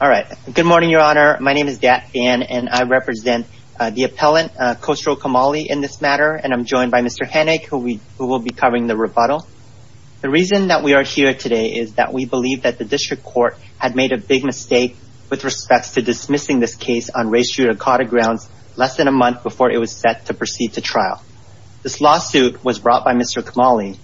All right. Good morning, Your Honor. My name is Dan and I represent the appellant, Khosrow Kamali, in this matter. And I'm joined by Mr. Hennig, who will be covering the rebuttal. The reason that we are here today is that we believe that the district court had made a big mistake with respect to dismissing this case on race judicata grounds less than a month before it was set to proceed to trial. This lawsuit was brought by Mr. Kamali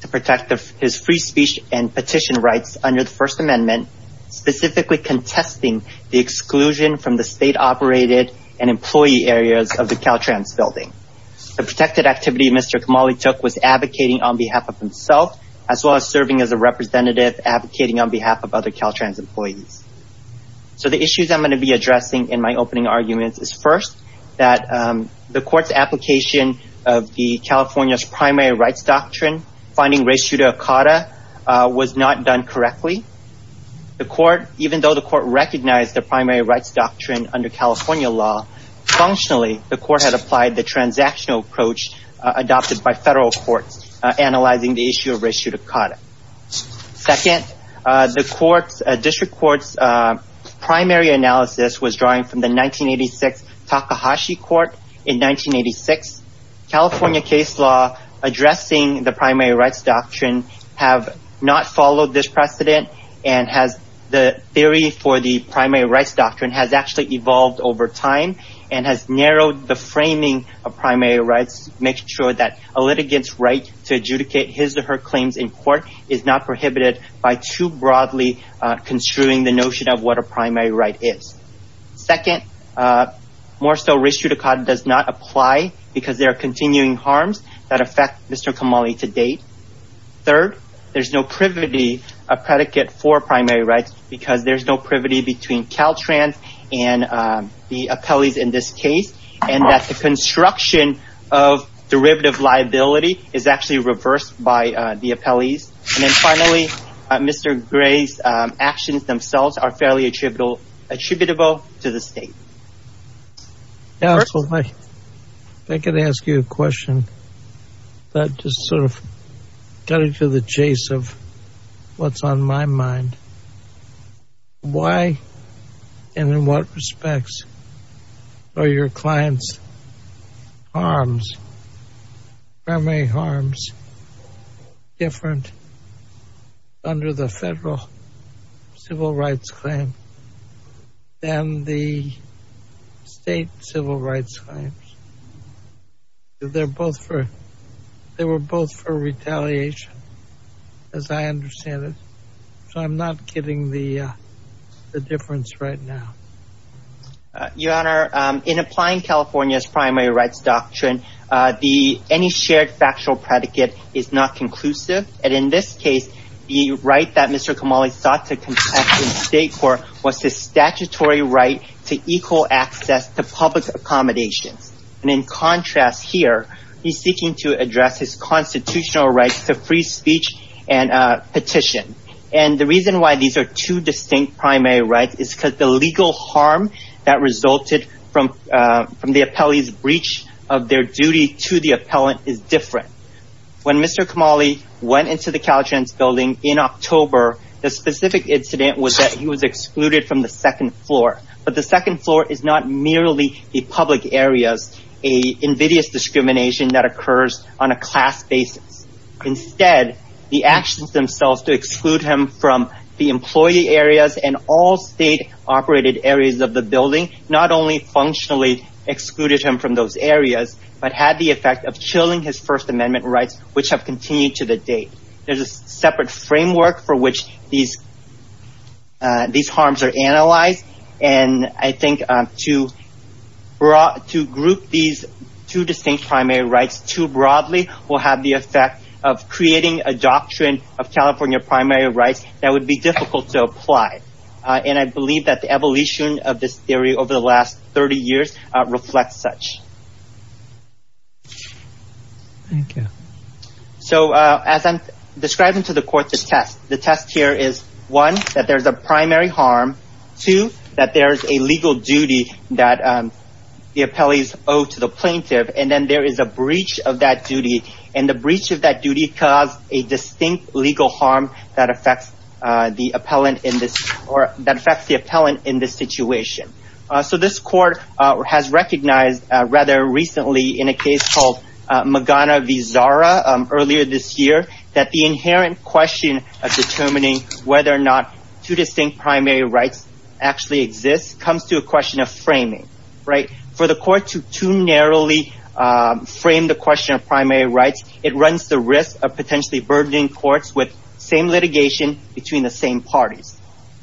to protect his free speech and petition rights under the First Amendment, specifically contesting the exclusion from the state-operated and employee areas of the Caltrans building. The protected activity Mr. Kamali took was advocating on behalf of himself, as well as serving as a representative advocating on behalf of other Caltrans employees. So the issues I'm going to be addressing in my opening arguments is, first, that the court's application of the California's primary rights doctrine, finding race judicata, was not done correctly. Even though the court recognized the primary rights doctrine under California law, functionally, the court had applied the transactional approach adopted by federal courts, analyzing the issue of race judicata. Second, the district court's primary analysis was drawn from the 1986 Takahashi court. In 1986, California case law addressing the primary rights doctrine has not followed this precedent, and the theory for the primary rights doctrine has actually evolved over time, and has narrowed the framing of primary rights, making sure that a litigant's right to adjudicate his or her claims in court is not prohibited by too broadly construing the notion of what a primary right is. Second, more so, race judicata does not apply because there are continuing harms that affect Mr. Kamali to date. Third, there's no privity of predicate for primary rights, because there's no privity between Caltrans and the appellees in this case, and that the construction of derivative liability is actually reversed by the appellees. And then finally, Mr. Gray's actions themselves are fairly attributable to the state. Counsel, if I could ask you a question that just sort of got into the chase of what's on my mind. Why and in what respects are your clients' harms, primary harms, different under the federal civil rights claim than the state civil rights claims? They're both for, they were both for getting the difference right now. Your Honor, in applying California's primary rights doctrine, any shared factual predicate is not conclusive. And in this case, the right that Mr. Kamali sought to contest in state court was the statutory right to equal access to public accommodations. And in contrast here, he's seeking to address his constitutional rights to free speech and petition. And the reason why these are two distinct primary rights is because the legal harm that resulted from the appellee's breach of their duty to the appellant is different. When Mr. Kamali went into the Caltrans building in October, the specific incident was that he was excluded from the second floor. But the second floor is not merely the public areas, a invidious discrimination that occurs on a class basis. Instead, the actions themselves to exclude him from the employee areas and all state operated areas of the building not only functionally excluded him from those areas, but had the effect of killing his First Amendment rights, which have continued to the date. There's a separate framework for which these two distinct primary rights too broadly will have the effect of creating a doctrine of California primary rights that would be difficult to apply. And I believe that the evolution of this theory over the last 30 years reflects such. So as I'm describing to the court the test, one, that there's a primary harm. Two, that there's a legal duty that the appellees owe to the plaintiff. And then there is a breach of that duty. And the breach of that duty caused a distinct legal harm that affects the appellant in this or that affects the appellant in this situation. So this court has recognized rather recently in a case called Magana v. Zara earlier this year that the inherent question of determining whether or not two distinct primary rights actually exist comes to a question of framing. For the court to too narrowly frame the question of primary rights, it runs the risk of potentially burdening courts with same litigation between the same parties.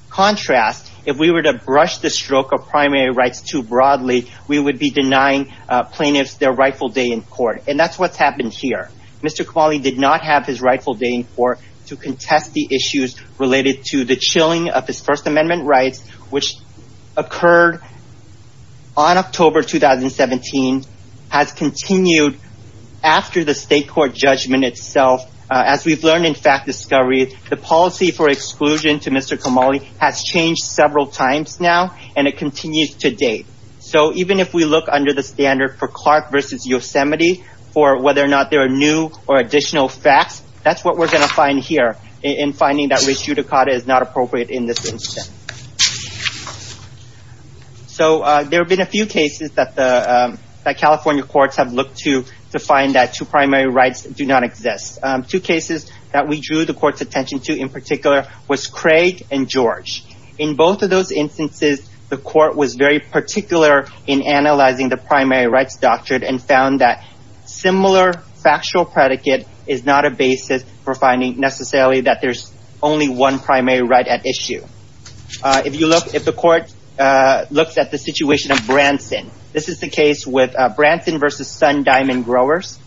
Contrast, if we were to brush the stroke of primary rights too broadly, we would be denying plaintiffs their rightful day in court. And that's what's happened here. Mr. Kamali did not have his rightful day in court to contest the issues related to the chilling of his First Amendment rights, which occurred on October 2017, has continued after the state court judgment itself. As we've learned in fact discovery, the policy for exclusion to Mr. Kamali has changed several times now and it continues to date. So even if we look under the standard for Clark v. Yosemite for whether or not there are new or additional facts, that's what we're going to find here in finding that res judicata is not appropriate in this instance. So there have been a few cases that the California courts have looked to to find that two primary rights do not exist. Two cases that we drew the court's attention to in particular was Craig and and found that similar factual predicate is not a basis for finding necessarily that there's only one primary right at issue. If you look, if the court looks at the situation of Branson, this is the case with Branson v. Sun Diamond Growers.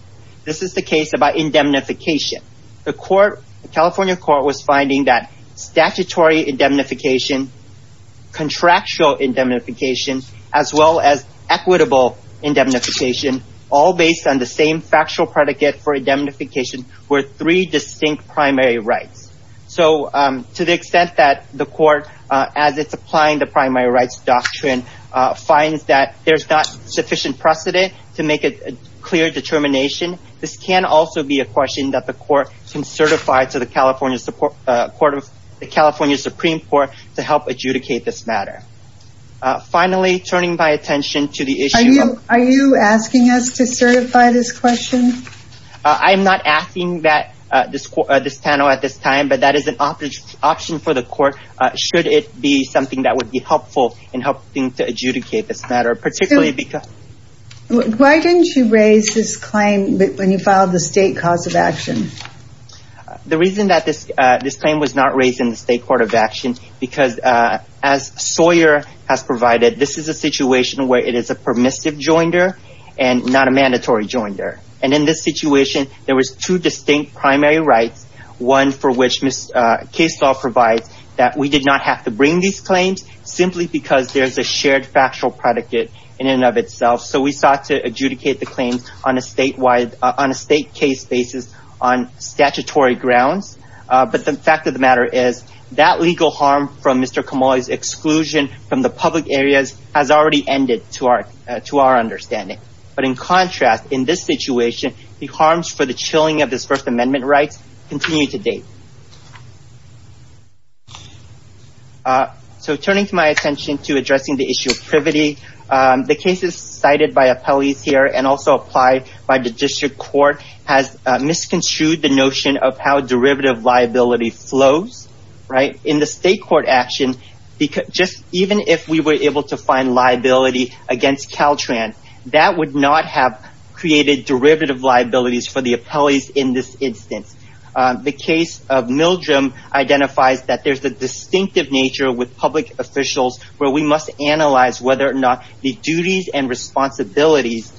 This is the case about indemnification. The court, the California court was finding that statutory indemnification, contractual indemnification, as well as equitable indemnification, all based on the same factual predicate for indemnification were three distinct primary rights. So to the extent that the court, as it's applying the primary rights doctrine, finds that there's not sufficient precedent to make a clear determination, this can also be a question that the court can certify to the California Supreme Court to help adjudicate this matter. Finally, turning my attention to the issue. Are you asking us to certify this question? I'm not asking that this panel at this time, but that is an option for the court, should it be something that would be helpful in helping to adjudicate this matter, particularly because. Why didn't you raise this claim when you filed the state cause of action? The reason that this claim was not raised in the state court of action, because as Sawyer has provided, this is a situation where it is a permissive joinder and not a mandatory joinder. And in this situation, there was two distinct primary rights, one for which case law provides that we did not have to bring these claims simply because there's a shared factual predicate in and of itself. So we sought to adjudicate the claims on a state case basis on statutory grounds. But the fact of the matter is that legal harm from Mr. Kamali's exclusion from the public areas has already ended to our understanding. But in contrast, in this situation, the harms for the chilling of this First Amendment rights continue to date. So turning to my attention to addressing the issue of privity, the cases cited by appellees here and also applied by the district court has misconstrued the notion of how derivative liability flows. In the state court action, even if we were able to find liability against Caltran, that would not have created derivative liabilities for the appellees in this instance. The case of Mildrem identifies that there's a distinctive nature with public officials where we must analyze whether or not the duties and responsibilities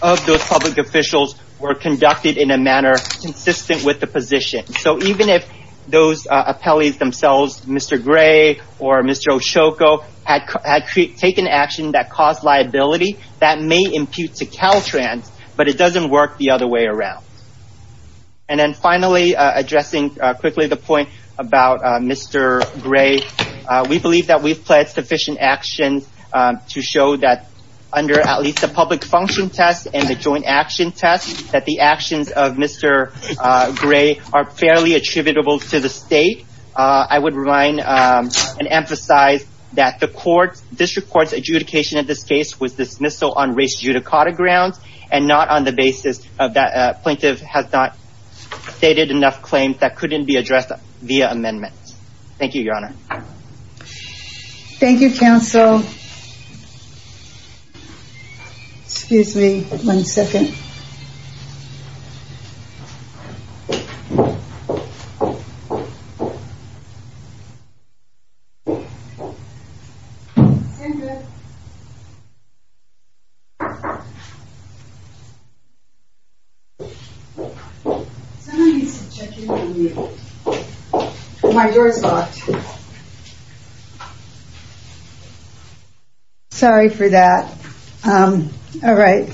of those public officials were conducted in a manner consistent with the position. So even if those appellees themselves, Mr. Gray or Mr. Oshoko, had taken action that caused liability, that may impute to Caltran, but it doesn't work the other way around. And then finally, addressing quickly the point about Mr. Gray, we believe that we've pledged sufficient action to show that under at least the public function test and the joint action test that the actions of Mr. Gray are fairly attributable to the state. I would remind and emphasize that the court district court's adjudication of this case was dismissal on race judicata grounds and not on the basis of that plaintiff has not stated enough claims that couldn't be addressed via amendments. Thank you, Your Honor. Thank you, counsel. Excuse me one second. My door's locked. Sorry for that. All right.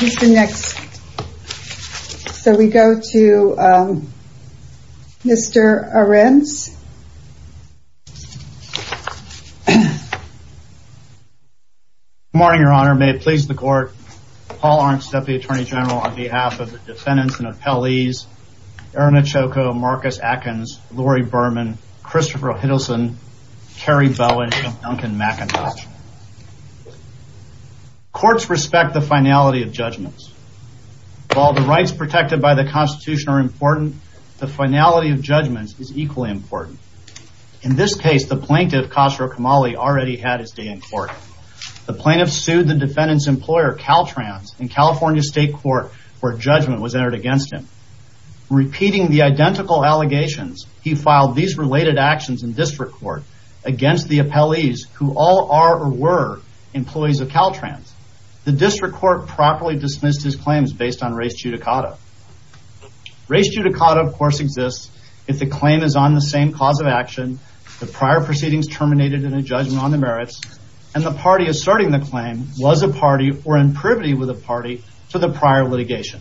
Who's the next? So we go to Mr. Arends. Good morning, Your Honor. May it please the court. Paul Arends, Deputy Attorney General, on behalf of the defendants and appellees, Erin Oshoko, Marcus Atkins, Lori Berman, Christopher Hiddleston, Terry Bowen, Duncan McIntosh. Courts respect the finality of judgments. While the rights protected by the Constitution are important, the finality of judgments is important. In this case, the plaintiff already had his day in court. The plaintiff sued the defendant's employer, Caltrans, in California State Court, where judgment was entered against him. Repeating the identical allegations, he filed these related actions in district court against the appellees, who all are or were employees of Caltrans. The district court properly dismissed his claims based on race judicata. Race judicata, of course, exists if the claim is on the same cause of action, the prior proceedings terminated in a judgment on the merits, and the party asserting the claim was a party or in privity with a party to the prior litigation.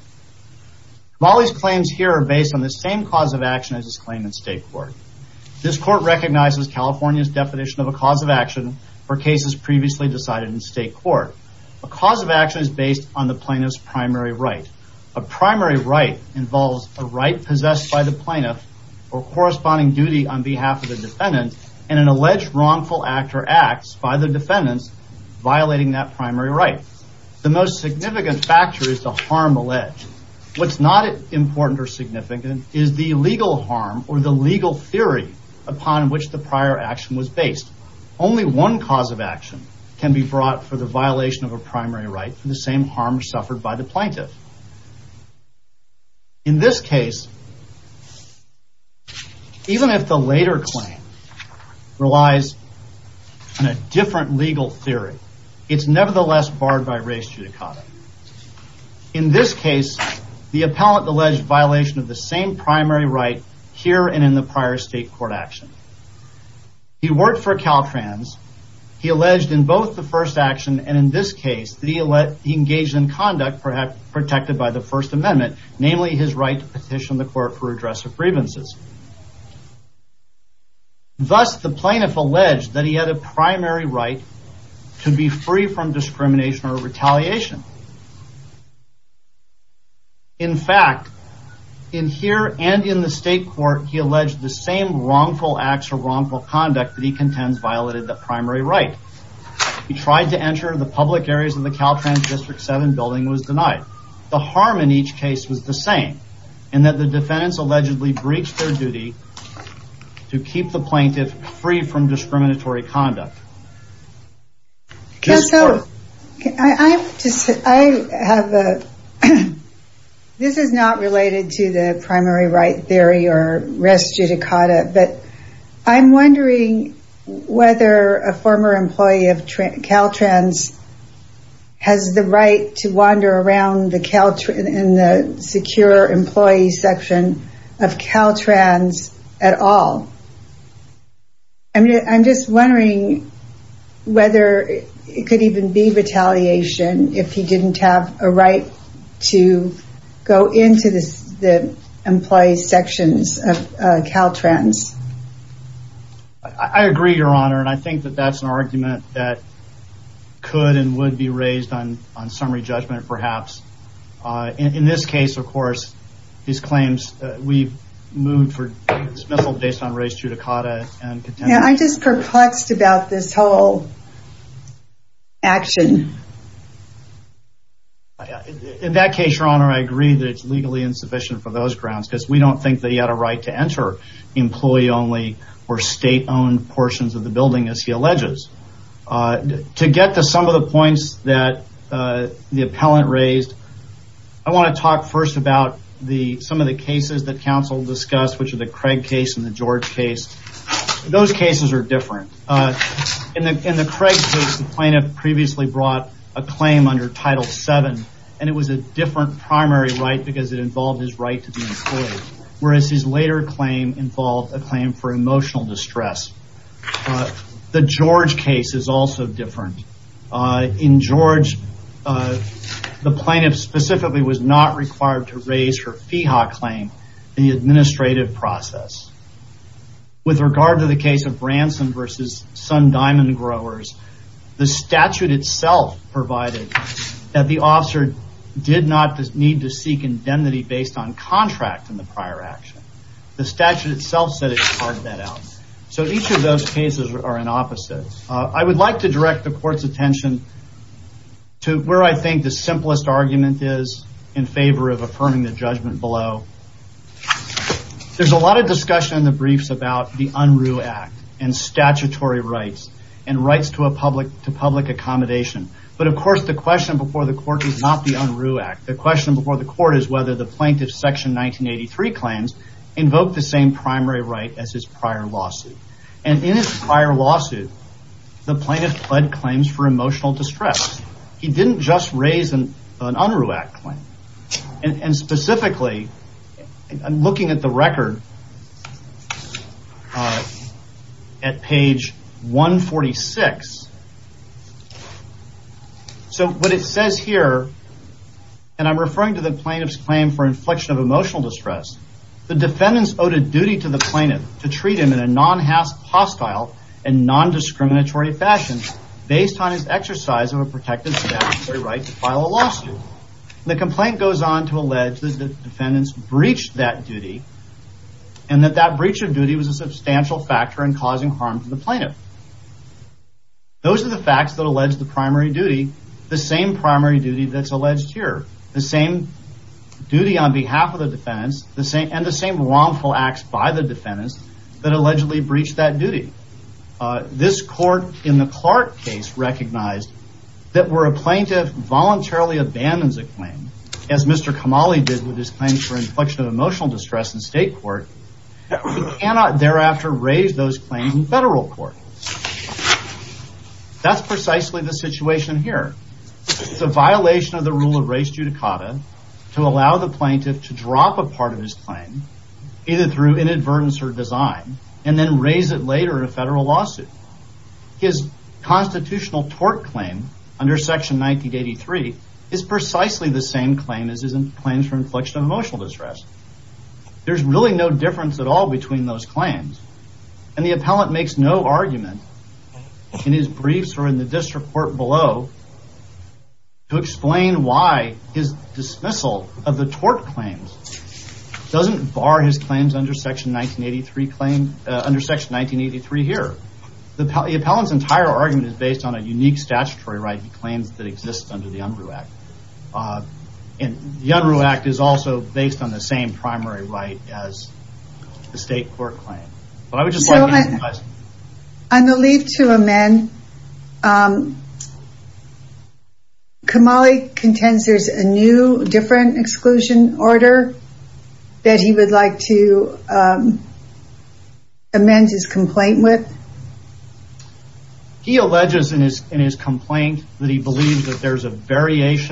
Molly's claims here are based on the same cause of action as his claim in state court. This court recognizes California's definition of a cause of action for cases previously decided in state court. A cause of action is based on the plaintiff's primary right. A primary right involves a right possessed by the plaintiff or corresponding duty on behalf of the defendant and an alleged wrongful act or acts by the defendants violating that primary right. The most significant factor is the harm alleged. What's not important or significant is the legal harm or the legal theory upon which the prior action was based. Only one cause of action can be brought for the violation of a primary right for the same harm suffered by the plaintiff. In this case, even if the later claim relies on a different legal theory, it's nevertheless barred by race judicata. In this case, the appellant alleged violation of the same primary right here and in the prior state court action. He worked for Caltrans. He alleged in first action and in this case that he engaged in conduct protected by the First Amendment, namely his right to petition the court for redress of grievances. Thus, the plaintiff alleged that he had a primary right to be free from discrimination or retaliation. In fact, in here and in the state court, he alleged the same wrongful acts or wrongful conduct that he contends violated the primary right. He tried to enter the public areas of the Caltrans District 7 building and was denied. The harm in each case was the same in that the defendants allegedly breached their duty to keep the plaintiff free from discriminatory conduct. This is not related to the primary right theory or race judicata, but I'm wondering whether a former employee of Caltrans has the right to wander around in the secure employee section of Caltrans at all. I'm just wondering whether it could even be retaliation if he didn't have a right to go into the employee sections of Caltrans. I agree, Your Honor, and I think that that's an argument that could and would be raised on summary judgment, perhaps. In this case, of course, these claims we've moved for dismissal based on race judicata. I'm just perplexed about this whole action. In that case, Your Honor, I agree that it's legally insufficient for those grounds because we don't think that he had a right to enter employee-only or state-owned portions of the building as he alleges. To get to some of the points that the appellant raised, I want to talk first about some of the cases that counsel discussed, which are the Craig case and the George case. Those cases are different. In the Craig case, the plaintiff previously brought a claim under Title VII, and it was a different primary right because it involved his right to be employed, whereas his later claim involved a claim for emotional distress. The George case is also different. In George, the plaintiff specifically was not required to raise her FEHA claim in the administrative process. With regard to the case of Branson v. Sun Diamond Growers, the statute itself provided that the officer did not need to be based on contract in the prior action. The statute itself said it departed that out. Each of those cases are in opposite. I would like to direct the Court's attention to where I think the simplest argument is in favor of affirming the judgment below. There's a lot of discussion in the briefs about the Unruh Act and statutory rights and rights to a public accommodation. Of course, the question before the Court is not the Unruh Act. The Court is whether the plaintiff's Section 1983 claims invoked the same primary right as his prior lawsuit. In his prior lawsuit, the plaintiff pled claims for emotional distress. He didn't just raise an Unruh Act claim. Specifically, I'm looking at the record here at page 146. What it says here, and I'm referring to the plaintiff's claim for inflection of emotional distress, the defendants owed a duty to the plaintiff to treat him in a non-hostile and non-discriminatory fashion based on his exercise of a protected statutory right to file a lawsuit. The complaint goes on to allege that the defendants breached that duty and that that breach of duty was a substantial factor in causing harm to the plaintiff. Those are the facts that allege the primary duty, the same primary duty that's alleged here. The same duty on behalf of the defendants and the same wrongful acts by the defendants that allegedly breached that duty. This court in the Clark case recognized that where a plaintiff voluntarily abandons a claim, as Mr. Kamali did with his claim for inflection of emotional distress in state court, he cannot thereafter raise those claims in federal court. That's precisely the situation here. It's a violation of the rule of res judicata to allow the plaintiff to drop a part of his claim, either through inadvertence or design, and then raise it later in a federal lawsuit. His constitutional tort claim under section 1983 is precisely the same claim as his claims for inflection of emotional distress. There's really no difference at all between those claims, and the appellant makes no argument in his briefs or in the district court below to explain why his dismissal of the tort claims doesn't bar his claims under section 1983 here. The appellant's entire argument is based on a unique statutory right to claims that exist under the Unruh Act. The Unruh Act is also based on the same primary right as the state court claim. I believe to amend, Kamali contends there's a new different exclusion order that he would like to amend his complaint with? He alleges in his complaint that he believes that there's a appellant's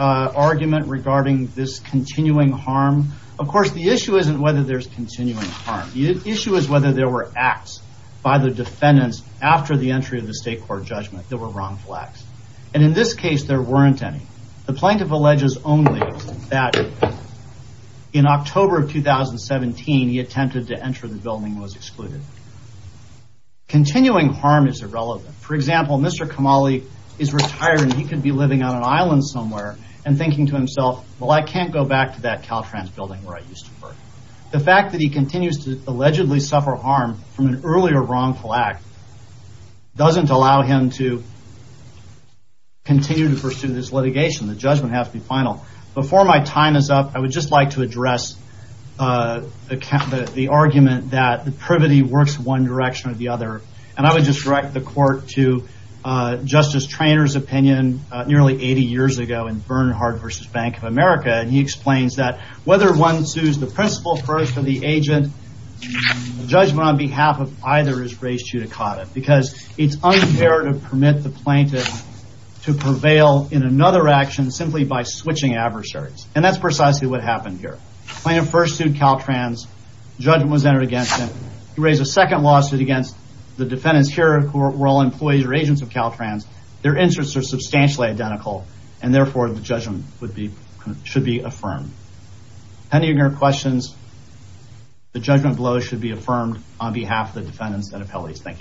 argument regarding this continuing harm. Of course, the issue isn't whether there's continuing harm. The issue is whether there were acts by the defendants after the entry of the state court judgment that were wrongful acts. In this case, there weren't any. The plaintiff alleges only that in October of 2017, he attempted to enter the building and was excluded. Continuing harm is irrelevant. For example, Mr. Kamali is retired and he could be living on an island somewhere and thinking to himself, well, I can't go back to that Caltrans building where I used to work. The fact that he continues to allegedly suffer harm from an earlier wrongful act doesn't allow him to continue to pursue this litigation. The judgment has to be final. Before my time is up, I would just like to address the argument that the privity works one direction or the other. I would just direct the court to Justice Traynor's opinion nearly 80 years ago in Bernhard v. Bank of America. He explains that whether one sues the principal first or the agent, the judgment on behalf of either is res judicata because it's unfair to plaintiff to prevail in another action simply by switching adversaries. That's precisely what happened here. The plaintiff first sued Caltrans. The judgment was entered against him. He raised a second lawsuit against the defendants here who were all employees or agents of Caltrans. Their interests are substantially identical. Therefore, the judgment should be affirmed. Any questions? The judgment below should be affirmed on behalf of the defendants and Mr.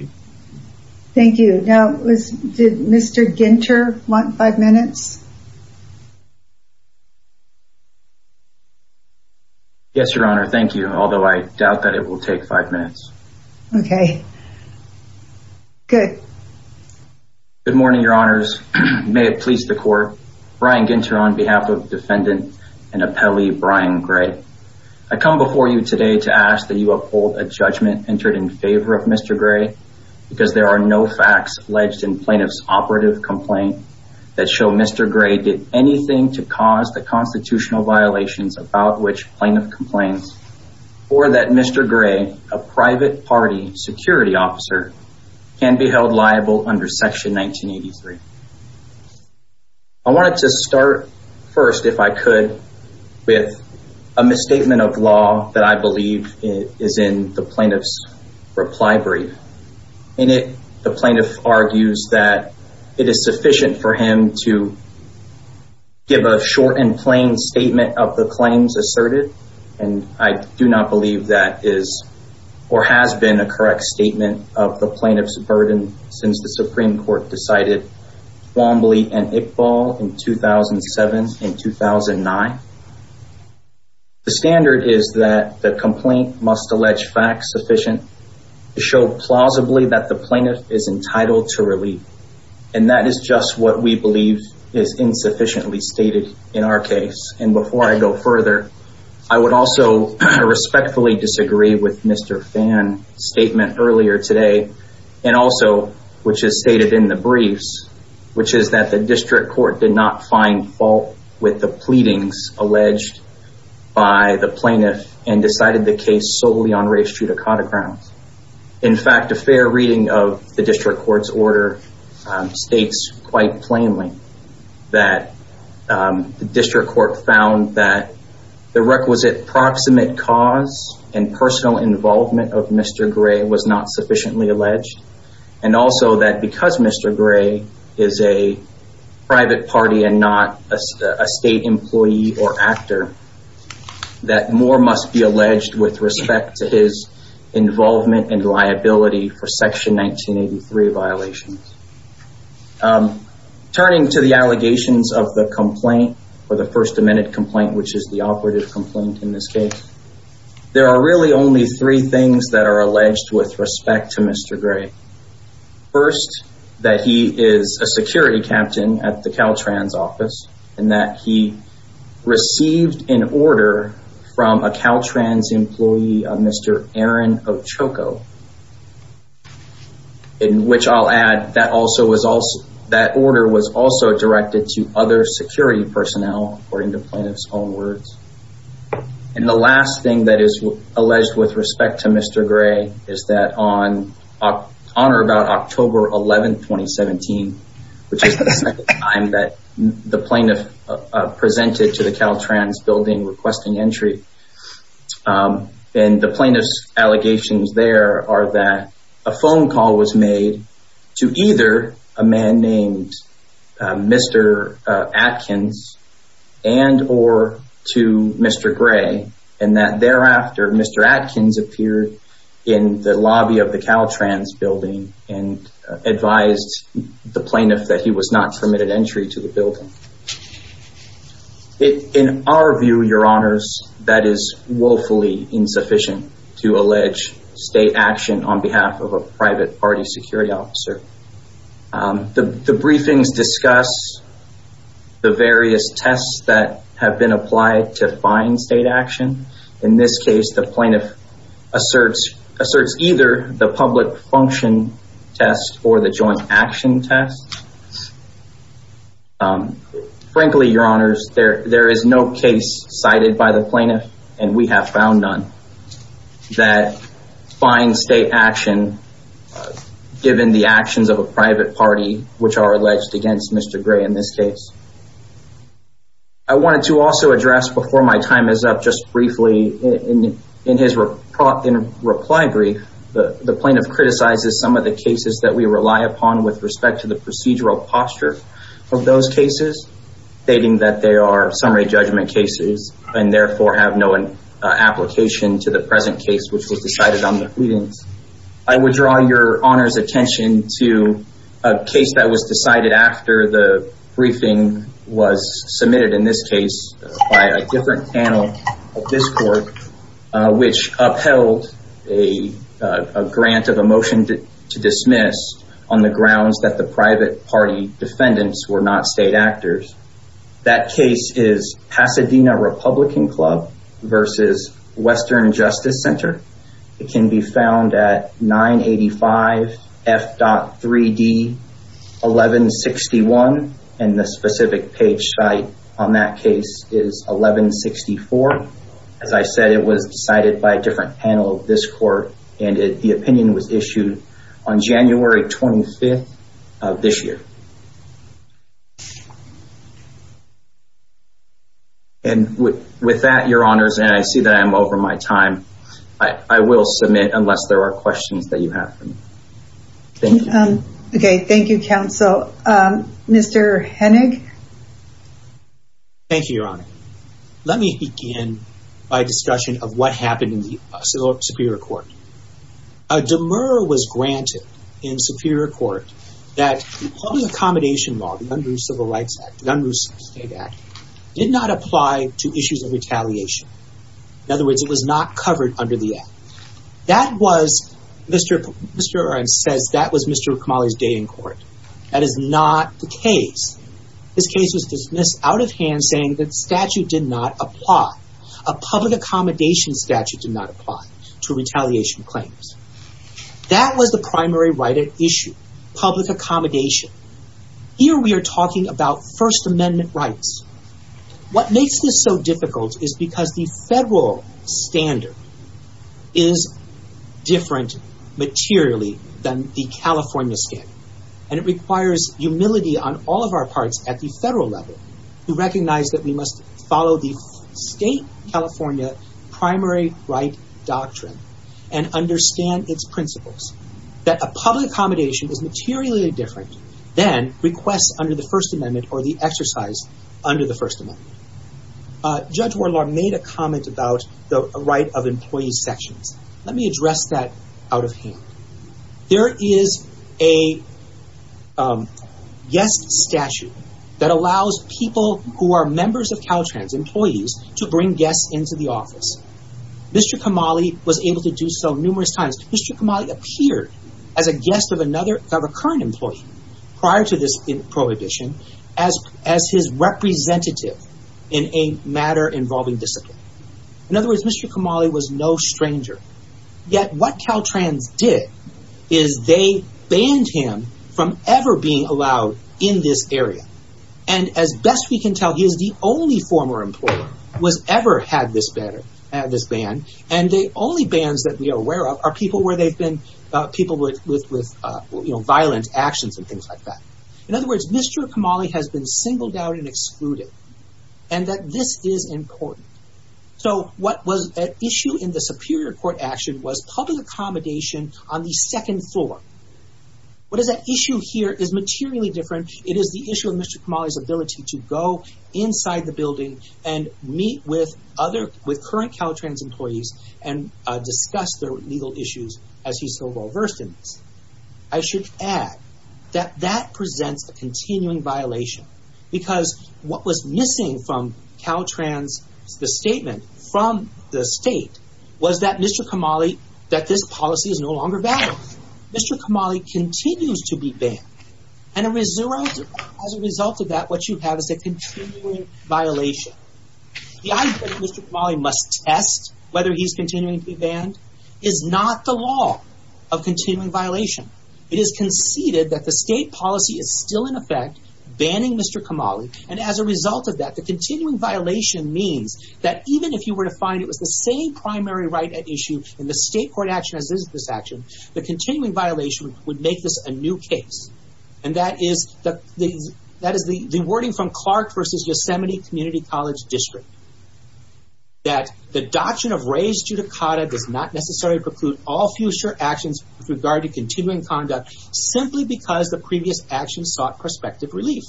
Ginter want five minutes? Yes, your honor. Thank you. Although I doubt that it will take five minutes. Okay. Good. Good morning, your honors. May it please the court. Brian Ginter on behalf of defendant and appellee Brian Gray. I come before you today to ask that you uphold a judgment entered in favor of Mr. Gray because there are no facts alleged in plaintiff's operative complaint that show Mr. Gray did anything to cause the constitutional violations about which plaintiff complains or that Mr. Gray, a private party security officer can be held liable under section 1983. I wanted to start first, if I could, with a misstatement of law that I believe is in the plaintiff's reply brief. In it, the plaintiff argues that it is sufficient for him to give a short and plain statement of the claims asserted. And I do not believe that is or has been a correct statement of the plaintiff's burden since the Supreme Court decided Wombly and Iqbal in 2007 and 2009. The standard is that the complaint must allege facts sufficient to show plausibly that the plaintiff is entitled to relief. And that is just what we believe is insufficiently stated in our case. And before I go further, I would also respectfully disagree with Mr. Phan's statement earlier today. And also, which is stated in the briefs, which is that the district court did not find fault with the pleadings alleged by the plaintiff and decided the case solely on res judicata grounds. In fact, a fair reading of the district court's order states quite plainly that the district court found that the requisite proximate cause and personal involvement of Mr. Gray was not sufficiently alleged. And also that because Mr. Gray is a private party and not a state employee or actor, that more must be alleged with respect to his involvement and liability for Section 1983 violations. Turning to the allegations of the complaint, or the First Amendment complaint, which is the operative complaint in this case, there are really only three things that are alleged with respect to Mr. Gray. First, that he is a security captain at the Caltrans office and that he received an order from a Caltrans employee, Mr. Aaron Ochoco. In which I'll add, that order was also directed to other security personnel, according to plaintiff's own words. And the last thing that is alleged with respect to Mr. Gray is that on or about October 11, 2017, which is the second time that the plaintiff presented to the Caltrans building requesting entry. And the plaintiff's own call was made to either a man named Mr. Atkins and, or to Mr. Gray. And that thereafter, Mr. Atkins appeared in the lobby of the Caltrans building and advised the plaintiff that he was not permitted entry to the building. In our view, your honors, that is woefully insufficient to party security officer. The briefings discuss the various tests that have been applied to fine state action. In this case, the plaintiff asserts either the public function test or the joint action test. Frankly, your honors, there is no case cited by the plaintiff, and we have found none, that fine state action, given the actions of a private party, which are alleged against Mr. Gray in this case. I wanted to also address before my time is up, just briefly in his reply brief, the plaintiff criticizes some of the cases that we rely upon with respect to the procedural posture of those cases, stating that they are summary judgment cases and therefore have no application to the present case, which was decided on the pleadings. I would draw your honors attention to a case that was decided after the briefing was submitted in this case by a different panel at this court, which upheld a grant of a motion to dismiss on the grounds that private party defendants were not state actors. That case is Pasadena Republican Club versus Western Justice Center. It can be found at 985 F.3D 1161, and the specific page site on that case is 1164. As I said, it was decided by a different panel of this court, and the opinion was issued on January 25th of this year. And with that, your honors, and I see that I'm over my time, I will submit unless there are questions that you have for me. Thank you. Okay. Thank you, counsel. Mr. Hennig. Thank you, your honor. Let me begin by discussion of what happened in the granted in superior court that the public accommodation law, the Unruh Civil Rights Act, the Unruh State Act, did not apply to issues of retaliation. In other words, it was not covered under the act. That was, Mr. Oren says, that was Mr. Kamali's day in court. That is not the case. This case was dismissed out of hand saying that statute did not apply. A public accommodation statute did not apply to retaliation claims. That was the primary right at issue, public accommodation. Here we are talking about First Amendment rights. What makes this so difficult is because the federal standard is different materially than the California standard, and it requires humility on all of our parts at the federal level to recognize that we must follow the state of California primary right doctrine and understand its principles. That a public accommodation is materially different than requests under the First Amendment or the exercise under the First Amendment. Judge Wardlaw made a comment about the right of employee sections. Let me address that out of hand. There is a yes statute that allows people who are members of to bring guests into the office. Mr. Kamali was able to do so numerous times. Mr. Kamali appeared as a guest of a current employee prior to this prohibition as his representative in a matter involving discipline. In other words, Mr. Kamali was no stranger. Yet what Caltrans did is they him from ever being allowed in this area. As best we can tell, he is the only former employer who has ever had this ban. The only bans that we are aware of are people with violent actions and things like that. In other words, Mr. Kamali has been singled out and excluded, and this is important. What was at issue in the Superior Court action was public accommodation on the second floor. What is at issue here is materially different. It is the issue of Mr. Kamali's ability to go inside the building and meet with current Caltrans employees and discuss their legal issues as he's so well-versed in this. I should add that that presents a continuing violation because what was missing from Caltrans, the statement from the state, was that Mr. Kamali, that this policy is no longer valid. Mr. Kamali continues to be banned, and as a result of that, what you have is a continuing violation. The idea that Mr. Kamali must test whether he's continuing to be banned is not the law of continuing violation. It is conceded that the state policy is still in effect banning Mr. Kamali, and as a result of that, the continuing violation means that even if you were to find it was the same primary right at the state court action as this action, the continuing violation would make this a new case. And that is the wording from Clark versus Yosemite Community College District, that the doctrine of res judicata does not necessarily preclude all future actions with regard to continuing conduct simply because the previous actions sought prospective relief.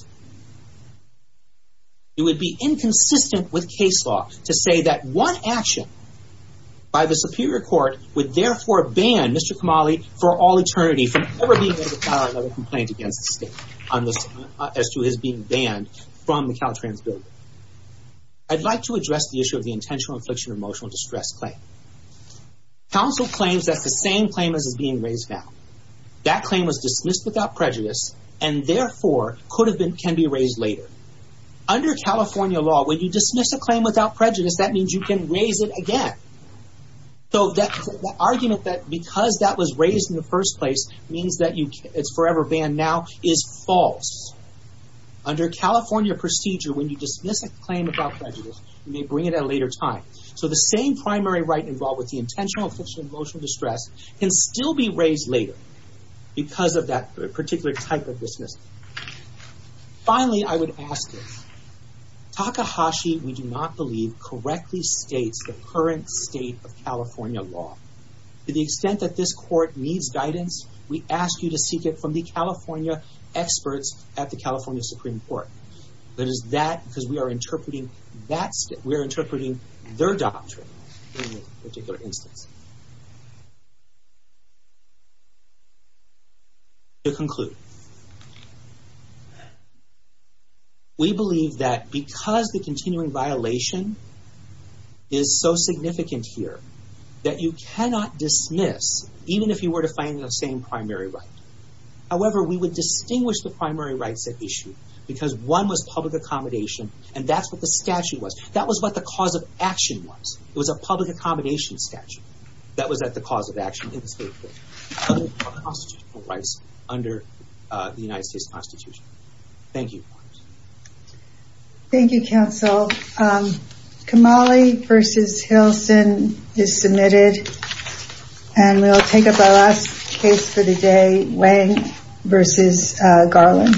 It would be inconsistent with case law to say that one action by the superior court would therefore ban Mr. Kamali for all eternity from ever being able to file another complaint against the state as to his being banned from the Caltrans building. I'd like to address the issue of the intentional infliction of emotional distress claim. Counsel claims that's the same claim as is being raised now. That claim was dismissed without prejudice and therefore could have been can be raised later. Under California law, when you dismiss a claim without prejudice, that means you can raise it again. So that argument that because that was raised in the first place means that it's forever banned now is false. Under California procedure, when you dismiss a claim without prejudice, you may bring it at a later time. So the same primary right involved with the intentional infliction of emotional distress can still be raised later because of that particular type of dismissal. Finally, I would ask this. Takahashi, we do not believe, correctly states the current state of California law. To the extent that this court needs guidance, we ask you to seek it from the California experts at the California Supreme Court. That is that because we are interpreting their doctrine in this particular instance. To conclude, we believe that because the continuing violation is so significant here, that you cannot dismiss even if you were to find the same primary right. However, we would distinguish the primary rights at issue because one was public accommodation and that's what the statute was. That was what the cause of action was. It was a public accommodation statute. That was at the cause of action in this particular case. Other constitutional rights under the United States Constitution. Thank you. Thank you, counsel. Kamali versus Hilson is submitted. And we'll take up our last case for the day, Wang versus Garland.